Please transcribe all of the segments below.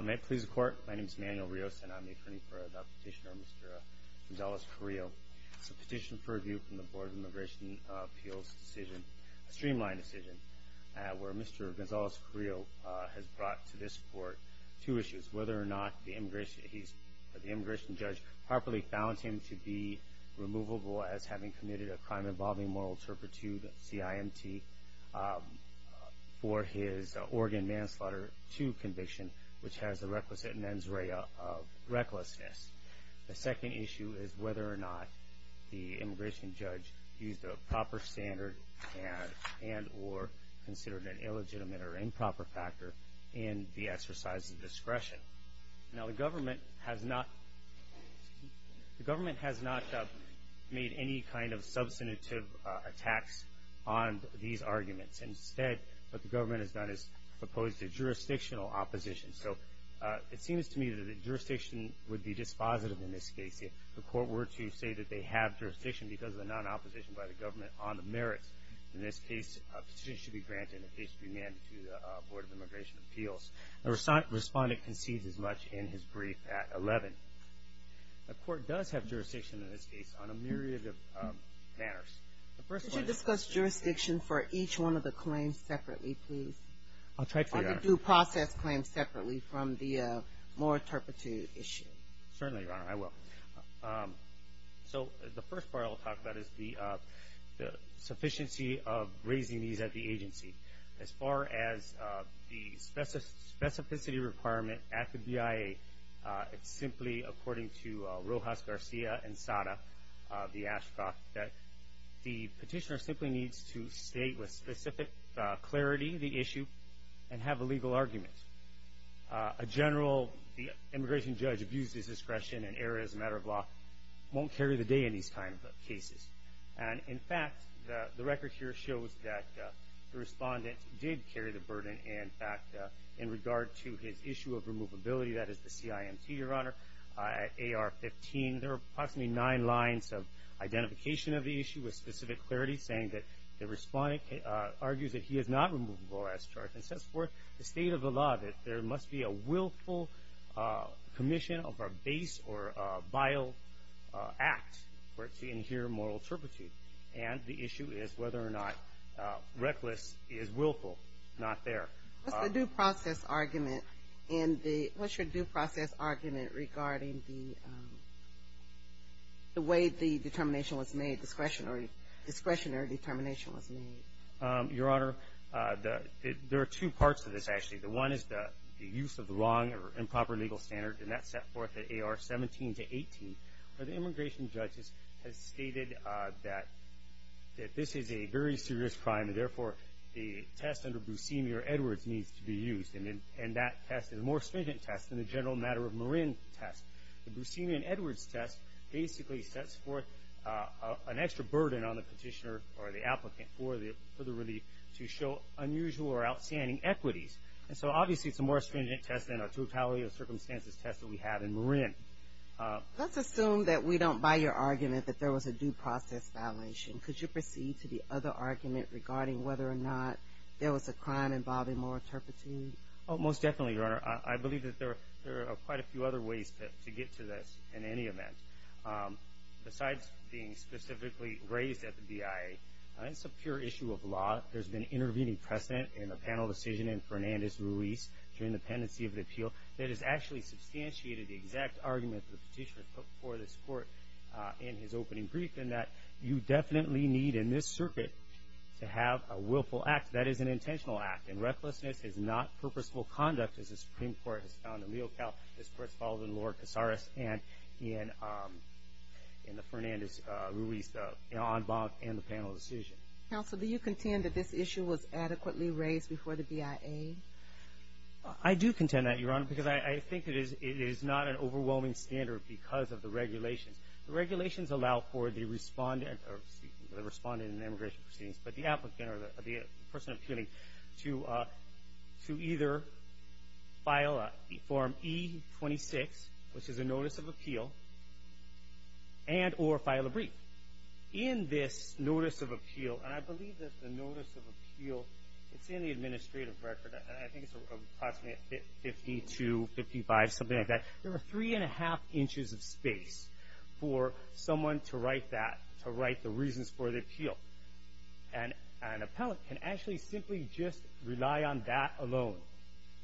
May it please the court, my name is Emanuel Rios and I'm the attorney for the petitioner Mr. Gonzales-Carrillo. It's a petition for review from the Board of Immigration Appeals decision, a streamlined decision, where Mr. Gonzales-Carrillo has brought to this court two issues, whether or not the immigration judge properly found him to be removable as having committed a crime involving moral turpitude, CIMT, for his Oregon manslaughter to conviction, which has the requisite mens rea of recklessness. The second issue is whether or not the immigration judge used a proper standard and or considered an illegitimate or improper factor in the exercise of discretion. Now the government has not made any kind of substantive attacks on these arguments. Instead what the government has done is proposed a jurisdictional opposition. So it seems to me that the jurisdiction would be dispositive in this case. If the court were to say that they have jurisdiction because of the non-opposition by the government on the merits, in this case a petition should be granted in the case of remand to the Board of Immigration Appeals. The respondent concedes as much in his brief at 11. The court does have jurisdiction in this case on a myriad of matters. The first one is- Could you discuss jurisdiction for each one of the claims separately, please? I'll try to, Your Honor. Or the due process claims separately from the moral turpitude issue. Certainly, Your Honor, I will. So the first part I'll talk about is the sufficiency of raising these at the agency. As far as the specificity requirement at the BIA, it's simply according to Rojas Garcia and Sada, the Ashcroft, that the petitioner simply needs to state with specific clarity the issue and have a legal argument. A general immigration judge abuses discretion and error as a matter of law won't carry the day in these kinds of cases. And, in fact, the record here shows that the respondent did carry the burden, in fact, in regard to his issue of removability, that is the CIMT, Your Honor, AR-15. There are approximately nine lines of identification of the issue with specific clarity, saying that the respondent argues that he is not removable as charged and sets forth the state of the law that there must be a willful commission of a base or a vial act. We're seeing here moral turpitude. And the issue is whether or not reckless is willful. Not there. What's the due process argument in the – what's your due process argument regarding the way the determination was made, discretionary determination was made? Your Honor, there are two parts to this, actually. The one is the use of the wrong or improper legal standard, and that's set forth at AR-17 to 18. The immigration judge has stated that this is a very serious crime, and, therefore, the test under Buscemi or Edwards needs to be used. And that test is a more stringent test than the general matter of Marin test. The Buscemi and Edwards test basically sets forth an extra burden on the petitioner or the applicant for the relief to show unusual or outstanding equities. And so, obviously, it's a more stringent test than a totality of circumstances test that we have in Marin. Let's assume that we don't buy your argument that there was a due process violation. Could you proceed to the other argument regarding whether or not there was a crime involving moral turpitude? Most definitely, Your Honor. I believe that there are quite a few other ways to get to this in any event. Besides being specifically raised at the BIA, it's a pure issue of law. There's been intervening precedent in a panel decision in Fernandez-Ruiz during the pendency of the appeal that has actually substantiated the exact argument the petitioner took for this court in his opening brief, in that you definitely need in this circuit to have a willful act. That is an intentional act, and recklessness is not purposeful conduct, as the Supreme Court has found in Leocal. This, of course, follows in Lord Casares and in the Fernandez-Ruiz en banc and the panel decision. Counsel, do you contend that this issue was adequately raised before the BIA? I do contend that, Your Honor, because I think it is not an overwhelming standard because of the regulations. The regulations allow for the respondent in the immigration proceedings, but the applicant or the person appealing, to either file Form E-26, which is a notice of appeal, and or file a brief. In this notice of appeal, and I believe that the notice of appeal is in the administrative record. I think it's approximately 5255, something like that. There are three and a half inches of space for someone to write that, to write the reasons for the appeal. An appellant can actually simply just rely on that alone.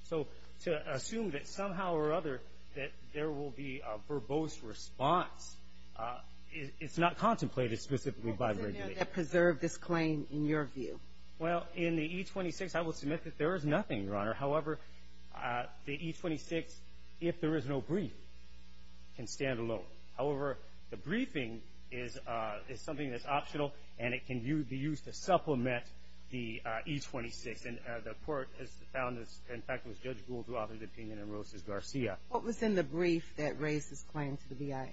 So to assume that somehow or other that there will be a verbose response, it's not contemplated specifically by the regulations. What does it mean to preserve this claim, in your view? Well, in the E-26, I will submit that there is nothing, Your Honor. However, the E-26, if there is no brief, can stand alone. However, the briefing is something that's optional, and it can be used to supplement the E-26. Yes, and the court has found this. In fact, it was Judge Gould who authored the opinion in Rosas-Garcia. What was in the brief that raised this claim to the BIA?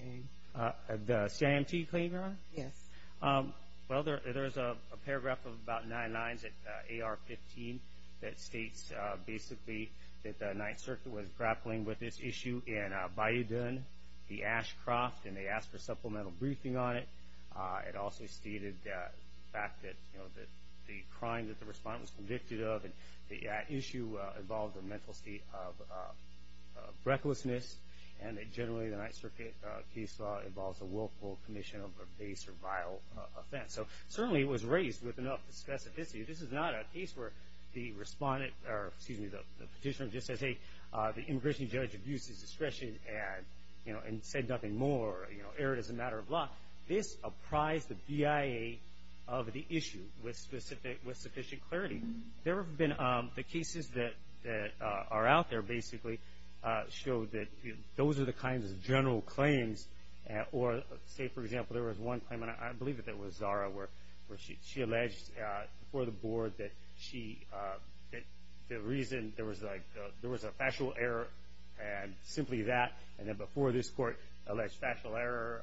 The CIMT claim, Your Honor? Yes. Well, there's a paragraph of about nine lines at AR-15 that states, basically, that the Ninth Circuit was grappling with this issue in Bayoudin, the Ashcroft, and they asked for supplemental briefing on it. It also stated the fact that the crime that the respondent was convicted of, and the issue involved a mental state of recklessness, and that generally the Ninth Circuit case law involves a willful commission of a base or vile offense. So certainly, it was raised with enough specificity. This is not a case where the respondent or, excuse me, the petitioner just says, hey, the immigration judge abused his discretion and said nothing more or erred as a matter of law. This apprised the BIA of the issue with sufficient clarity. The cases that are out there, basically, show that those are the kinds of general claims, or say, for example, there was one claim, and I believe that it was Zara, where she alleged before the board that the reason there was a factual error and simply that, and then before this court alleged factual error,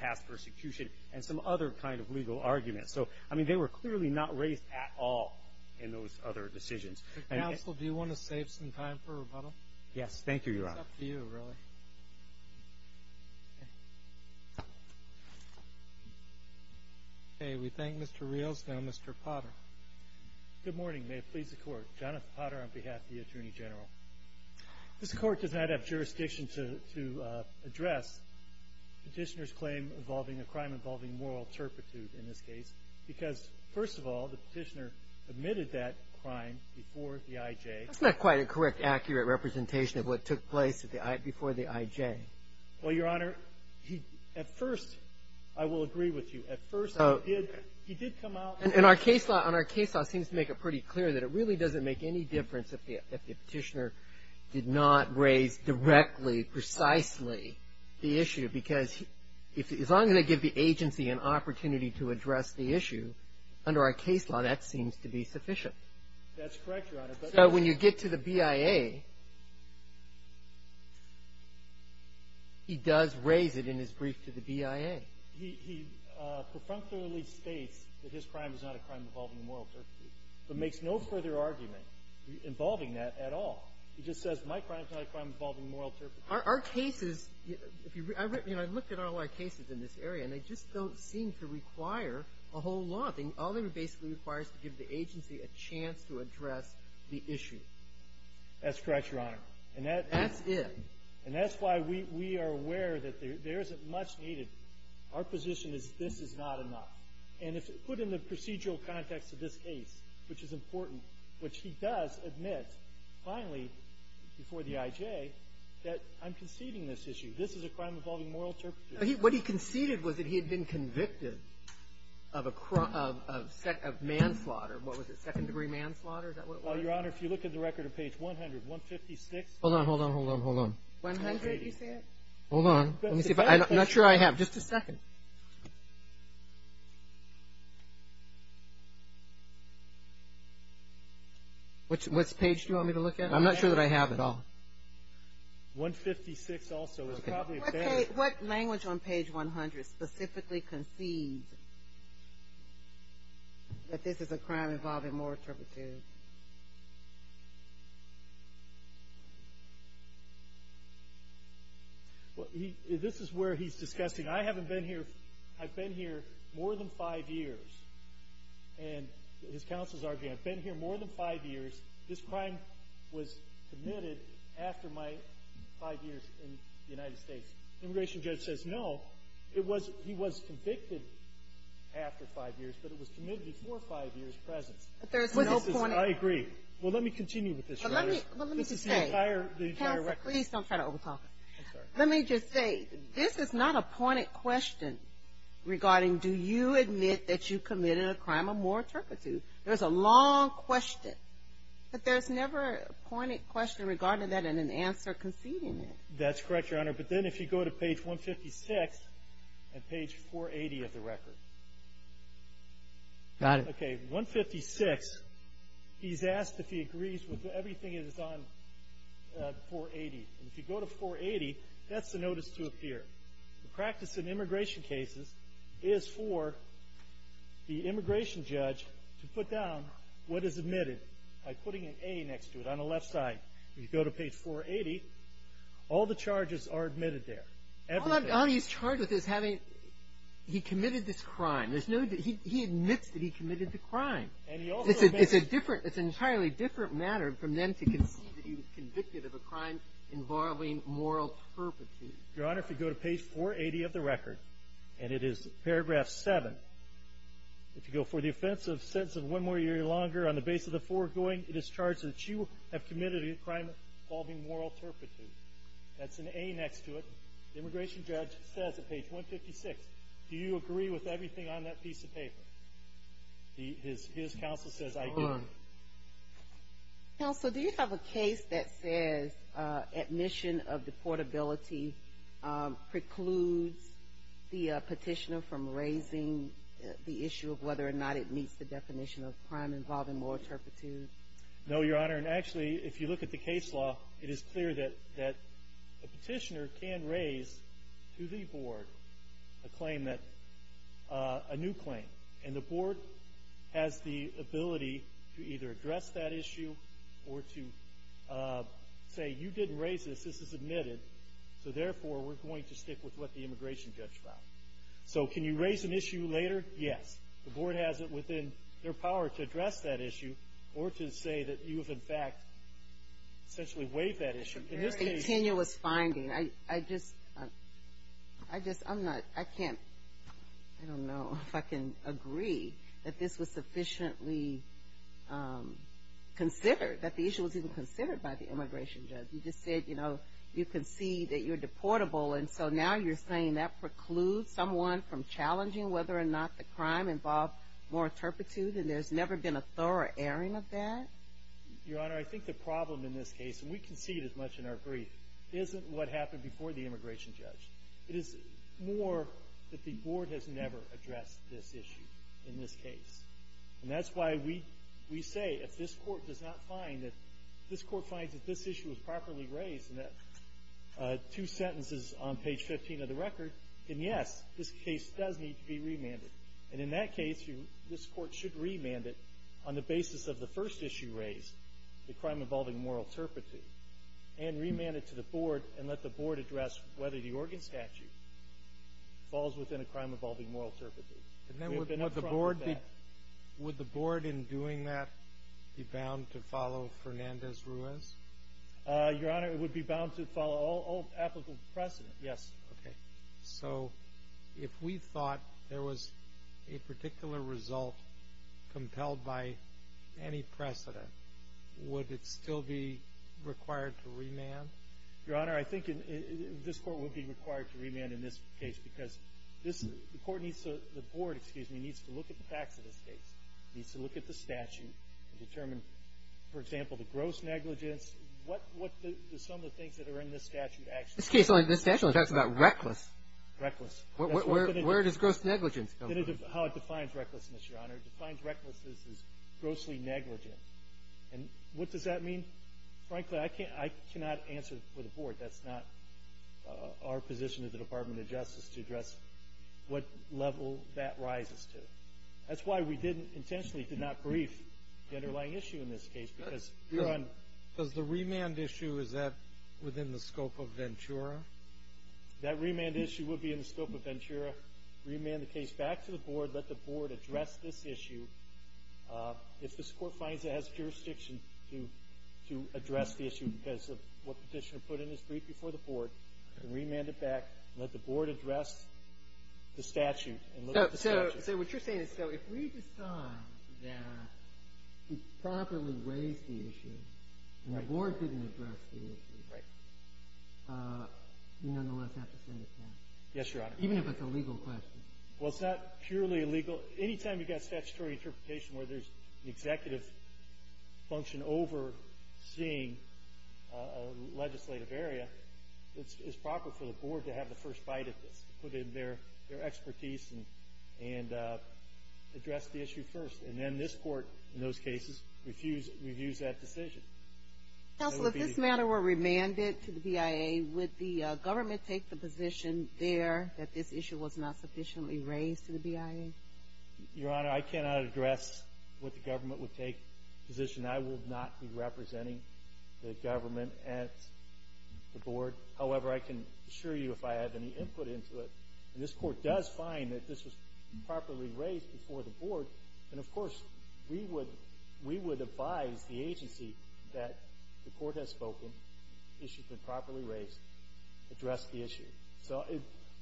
past persecution, and some other kind of legal argument. So, I mean, they were clearly not raised at all in those other decisions. Counsel, do you want to save some time for rebuttal? Yes, thank you, Your Honor. It's up to you, really. Okay, we thank Mr. Rios. Now, Mr. Potter. Good morning. May it please the Court. Jonathan Potter on behalf of the Attorney General. This Court does not have jurisdiction to address Petitioner's claim involving a crime involving moral turpitude in this case, because, first of all, the Petitioner admitted that crime before the IJ. That's not quite a correct, accurate representation of what took place at the I – before the IJ. Well, Your Honor, he – at first, I will agree with you. At first, he did – he did come out. And our case law – and our case law seems to make it pretty clear that it really doesn't make any difference if the – if the Petitioner did not raise directly, precisely the issue, because if – as long as they give the agency an opportunity to address the issue, under our case law, that seems to be sufficient. That's correct, Your Honor. So when you get to the BIA, he does raise it in his brief to the BIA. He – he prefrontally states that his crime is not a crime involving moral turpitude, but makes no further argument involving that at all. He just says my crime is not a crime involving moral turpitude. Our – our cases, if you – you know, I've looked at all our cases in this area, and they just don't seem to require a whole lot. All they basically require is to give the agency a chance to address the issue. That's correct, Your Honor. And that – That's it. And that's why we – we are aware that there – there isn't much needed. Our position is this is not enough. And if put in the procedural context of this case, which is important, which he does admit finally before the IJ, that I'm conceding this issue. This is a crime involving moral turpitude. What he conceded was that he had been convicted of a – of manslaughter. What was it? Second-degree manslaughter? Is that what it was? Well, Your Honor, if you look at the record on page 100, 156. Hold on. Hold on. Hold on. Hold on. One hundred, you said? Hold on. Let me see if I – I'm not sure I have. Just a second. What's – what's page do you want me to look at? I'm not sure that I have it all. 156 also is probably a page. Okay. What language on page 100 specifically concedes that this is a crime involving moral turpitude? Well, this is where he's disgusting. I haven't been here – I've been here more than five years. And his counsels argue, I've been here more than five years. This crime was committed after my five years in the United States. The immigration judge says no. It was – he was convicted after five years, but it was committed before five years' presence. But there's no point – I agree. Well, let me continue with this, Your Honor. Well, let me just say – This is the entire record. Counsel, please don't try to over-talk us. I'm sorry. Let me just say, this is not a pointed question regarding, do you admit that you committed a crime of moral turpitude? There's a long question. But there's never a pointed question regarding that and an answer conceding it. That's correct, Your Honor. But then if you go to page 156 and page 480 of the record. Got it. Okay. 156, he's asked if he agrees with everything that is on 480. And if you go to 480, that's the notice to appear. The practice in immigration cases is for the immigration judge to put down what is admitted by putting an A next to it on the left side. If you go to page 480, all the charges are admitted there. Everything. All he's charged with is having – he committed this crime. There's no – he admits that he committed the crime. And he also – It's a different – it's an entirely different matter from them to concede that he was convicted of a crime involving moral turpitude. Your Honor, if you go to page 480 of the record, and it is paragraph 7, if you go for the offense of sentence of one more year or longer on the basis of the foregoing, it is charged that you have committed a crime involving moral turpitude. That's an A next to it. The immigration judge says at page 156, do you agree with everything on that piece of paper? His counsel says, I do. Counsel, do you have a case that says admission of deportability precludes the petitioner from raising the issue of whether or not it meets the definition of crime involving moral turpitude? No, Your Honor. Your Honor, actually, if you look at the case law, it is clear that a petitioner can raise to the board a claim that – a new claim. And the board has the ability to either address that issue or to say, you didn't raise this, this is admitted, so therefore we're going to stick with what the immigration judge found. So can you raise an issue later? Yes. The board has it within their power to address that issue or to say that you have, in fact, essentially waived that issue. It's a very tenuous finding. I just – I'm not – I can't – I don't know if I can agree that this was sufficiently considered, that the issue was even considered by the immigration judge. He just said, you know, you concede that you're deportable, and so now you're saying that precludes someone from challenging whether or not the crime involved more turpitude and there's never been a thorough airing of that? Your Honor, I think the problem in this case, and we concede as much in our brief, isn't what happened before the immigration judge. It is more that the board has never addressed this issue in this case. And that's why we say if this court does not find that – if this court finds that this issue was properly raised in the two sentences on page 15 of the record, then yes, this case does need to be remanded. And in that case, this court should remand it on the basis of the first issue raised, the crime involving moral turpitude, and remand it to the board and let the board address whether the organ statute falls within a crime involving moral turpitude. And then would the board be – would the board in doing that be bound to follow Fernandez-Ruiz? Your Honor, it would be bound to follow all applicable precedent, yes. Okay. So if we thought there was a particular result compelled by any precedent, would it still be required to remand? Your Honor, I think this court would be required to remand in this case because this – the court needs to – the board, excuse me, needs to look at the facts of this case. It needs to look at the statute and determine, for example, the gross negligence, what the – some of the things that are in this statute actually are. This case only – this statute only talks about reckless. Reckless. Where does gross negligence come from? How it defines recklessness, Your Honor. It defines recklessness as grossly negligent. And what does that mean? Frankly, I cannot answer for the board. That's not our position at the Department of Justice to address what level that rises to. That's why we didn't – intentionally did not brief the underlying issue in this case because we're on – Does the remand issue, is that within the scope of Ventura? That remand issue would be in the scope of Ventura. Remand the case back to the board. Let the board address this issue. If this court finds it has jurisdiction to address the issue because of what Petitioner put in his brief before the board, we can remand it back and let the board address the statute and look at the statute. So what you're saying is so if we decide that we've properly raised the issue and the board didn't address the issue, we nonetheless have to send it back. Yes, Your Honor. Even if it's a legal question. Well, it's not purely legal. Anytime you've got statutory interpretation where there's an executive function overseeing a legislative area, it's proper for the board to have the first bite at this, put in their expertise and address the issue first. And then this court, in those cases, reviews that decision. Counsel, if this matter were remanded to the BIA, would the government take the position there that this issue was not sufficiently raised to the BIA? Your Honor, I cannot address what the government would take position. I will not be representing the government at the board. However, I can assure you if I have any input into it, and this court does find that this was properly raised before the board, then, of course, we would advise the agency that the court has spoken, the issue has been properly raised, address the issue. So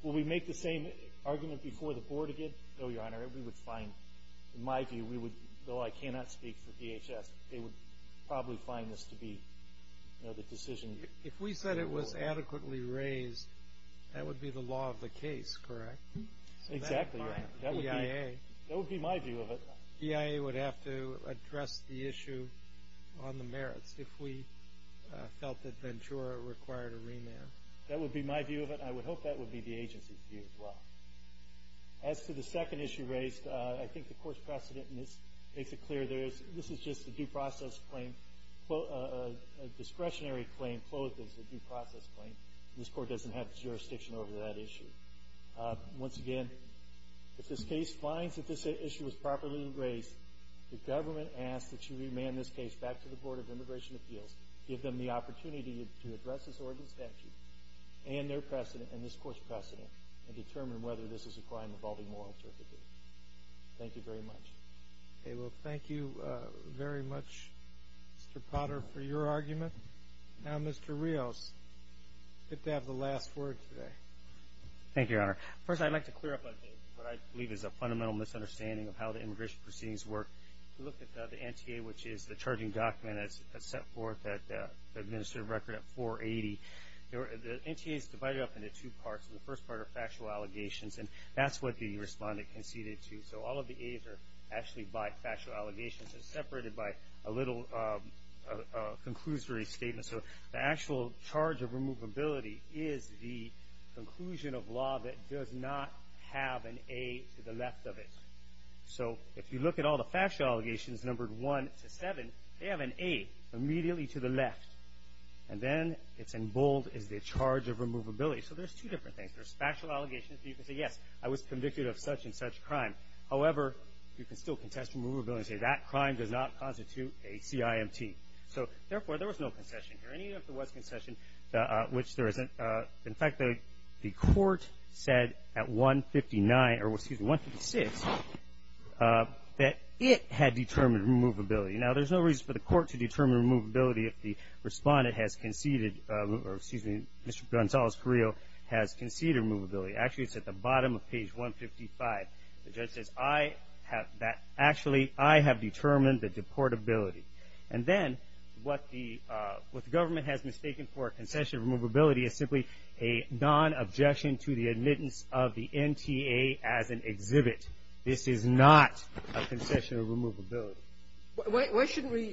will we make the same argument before the board again? No, Your Honor. We would find, in my view, though I cannot speak for DHS, they would probably find this to be the decision. If we said it was adequately raised, that would be the law of the case, correct? Exactly, Your Honor. BIA. That would be my view of it. BIA would have to address the issue on the merits if we felt that Ventura required a remand. That would be my view of it, and I would hope that would be the agency's view as well. As to the second issue raised, I think the court's precedent makes it clear this is just a due process claim, a discretionary claim closed as a due process claim. This court doesn't have jurisdiction over that issue. Once again, if this case finds that this issue was properly raised, the government asks that you remand this case back to the Board of Immigration Appeals, give them the opportunity to address this Oregon statute and their precedent and this court's precedent, and determine whether this is a claim involving moral certificate. Thank you very much. Okay, well, thank you very much, Mr. Potter, for your argument. Now, Mr. Rios, you get to have the last word today. Thank you, Your Honor. First, I'd like to clear up what I believe is a fundamental misunderstanding of how the immigration proceedings work. If you look at the NTA, which is the charging document that's set forth at the administrative record at 480, the NTA is divided up into two parts. The first part are factual allegations, and that's what the respondent conceded to. So all of the A's are actually by factual allegations and separated by a little conclusory statement. So the actual charge of removability is the conclusion of law that does not have an A to the left of it. So if you look at all the factual allegations numbered 1 to 7, they have an A immediately to the left. And then it's in bold is the charge of removability. So there's two different things. There's factual allegations, so you can say, yes, I was convicted of such and such crime. However, you can still contest removability and say that crime does not constitute a CIMT. So, therefore, there was no concession here. In fact, the court said at 159, or excuse me, 156, that it had determined removability. Now, there's no reason for the court to determine removability if the respondent has conceded, or excuse me, Mr. Gonzales Carrillo has conceded removability. Actually, it's at the bottom of page 155. The judge says, I have that. Actually, I have determined the deportability. And then what the government has mistaken for a concession of removability is simply a non-objection to the admittance of the NTA as an exhibit. This is not a concession of removability. Why shouldn't we,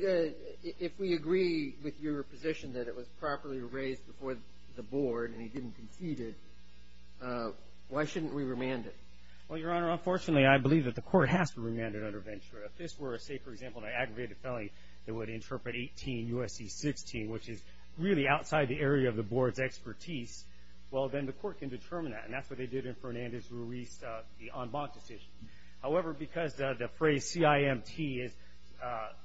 if we agree with your position that it was properly raised before the board and he didn't concede it, why shouldn't we remand it? Well, Your Honor, unfortunately, I believe that the court has to remand it under Ventura. If this were, say, for example, an aggravated felony that would interpret 18 U.S.C. 16, which is really outside the area of the board's expertise, well, then the court can determine that. And that's what they did in Fernandez-Ruiz, the en banc decision. However, because the phrase CIMT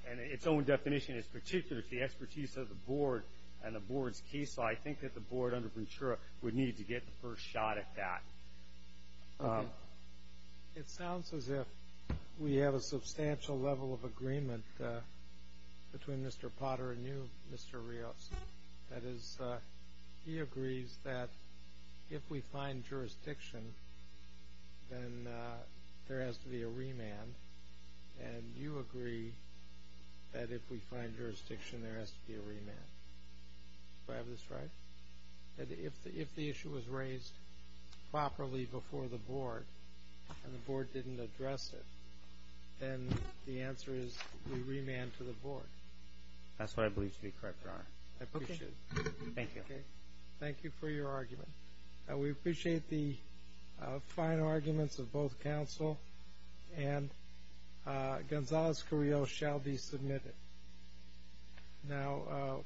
and its own definition is particular to the expertise of the board and the board's case, I think that the board under Ventura would need to get the first shot at that. It sounds as if we have a substantial level of agreement between Mr. Potter and you, Mr. Rios. That is, he agrees that if we find jurisdiction, then there has to be a remand. And you agree that if we find jurisdiction, there has to be a remand. Do I have this right? That if the issue was raised properly before the board and the board didn't address it, then the answer is we remand to the board. That's what I believe to be correct, Your Honor. I appreciate it. Thank you. Thank you for your argument. We appreciate the fine arguments of both counsel. And Gonzales-Carrillo shall be submitted. Thank you.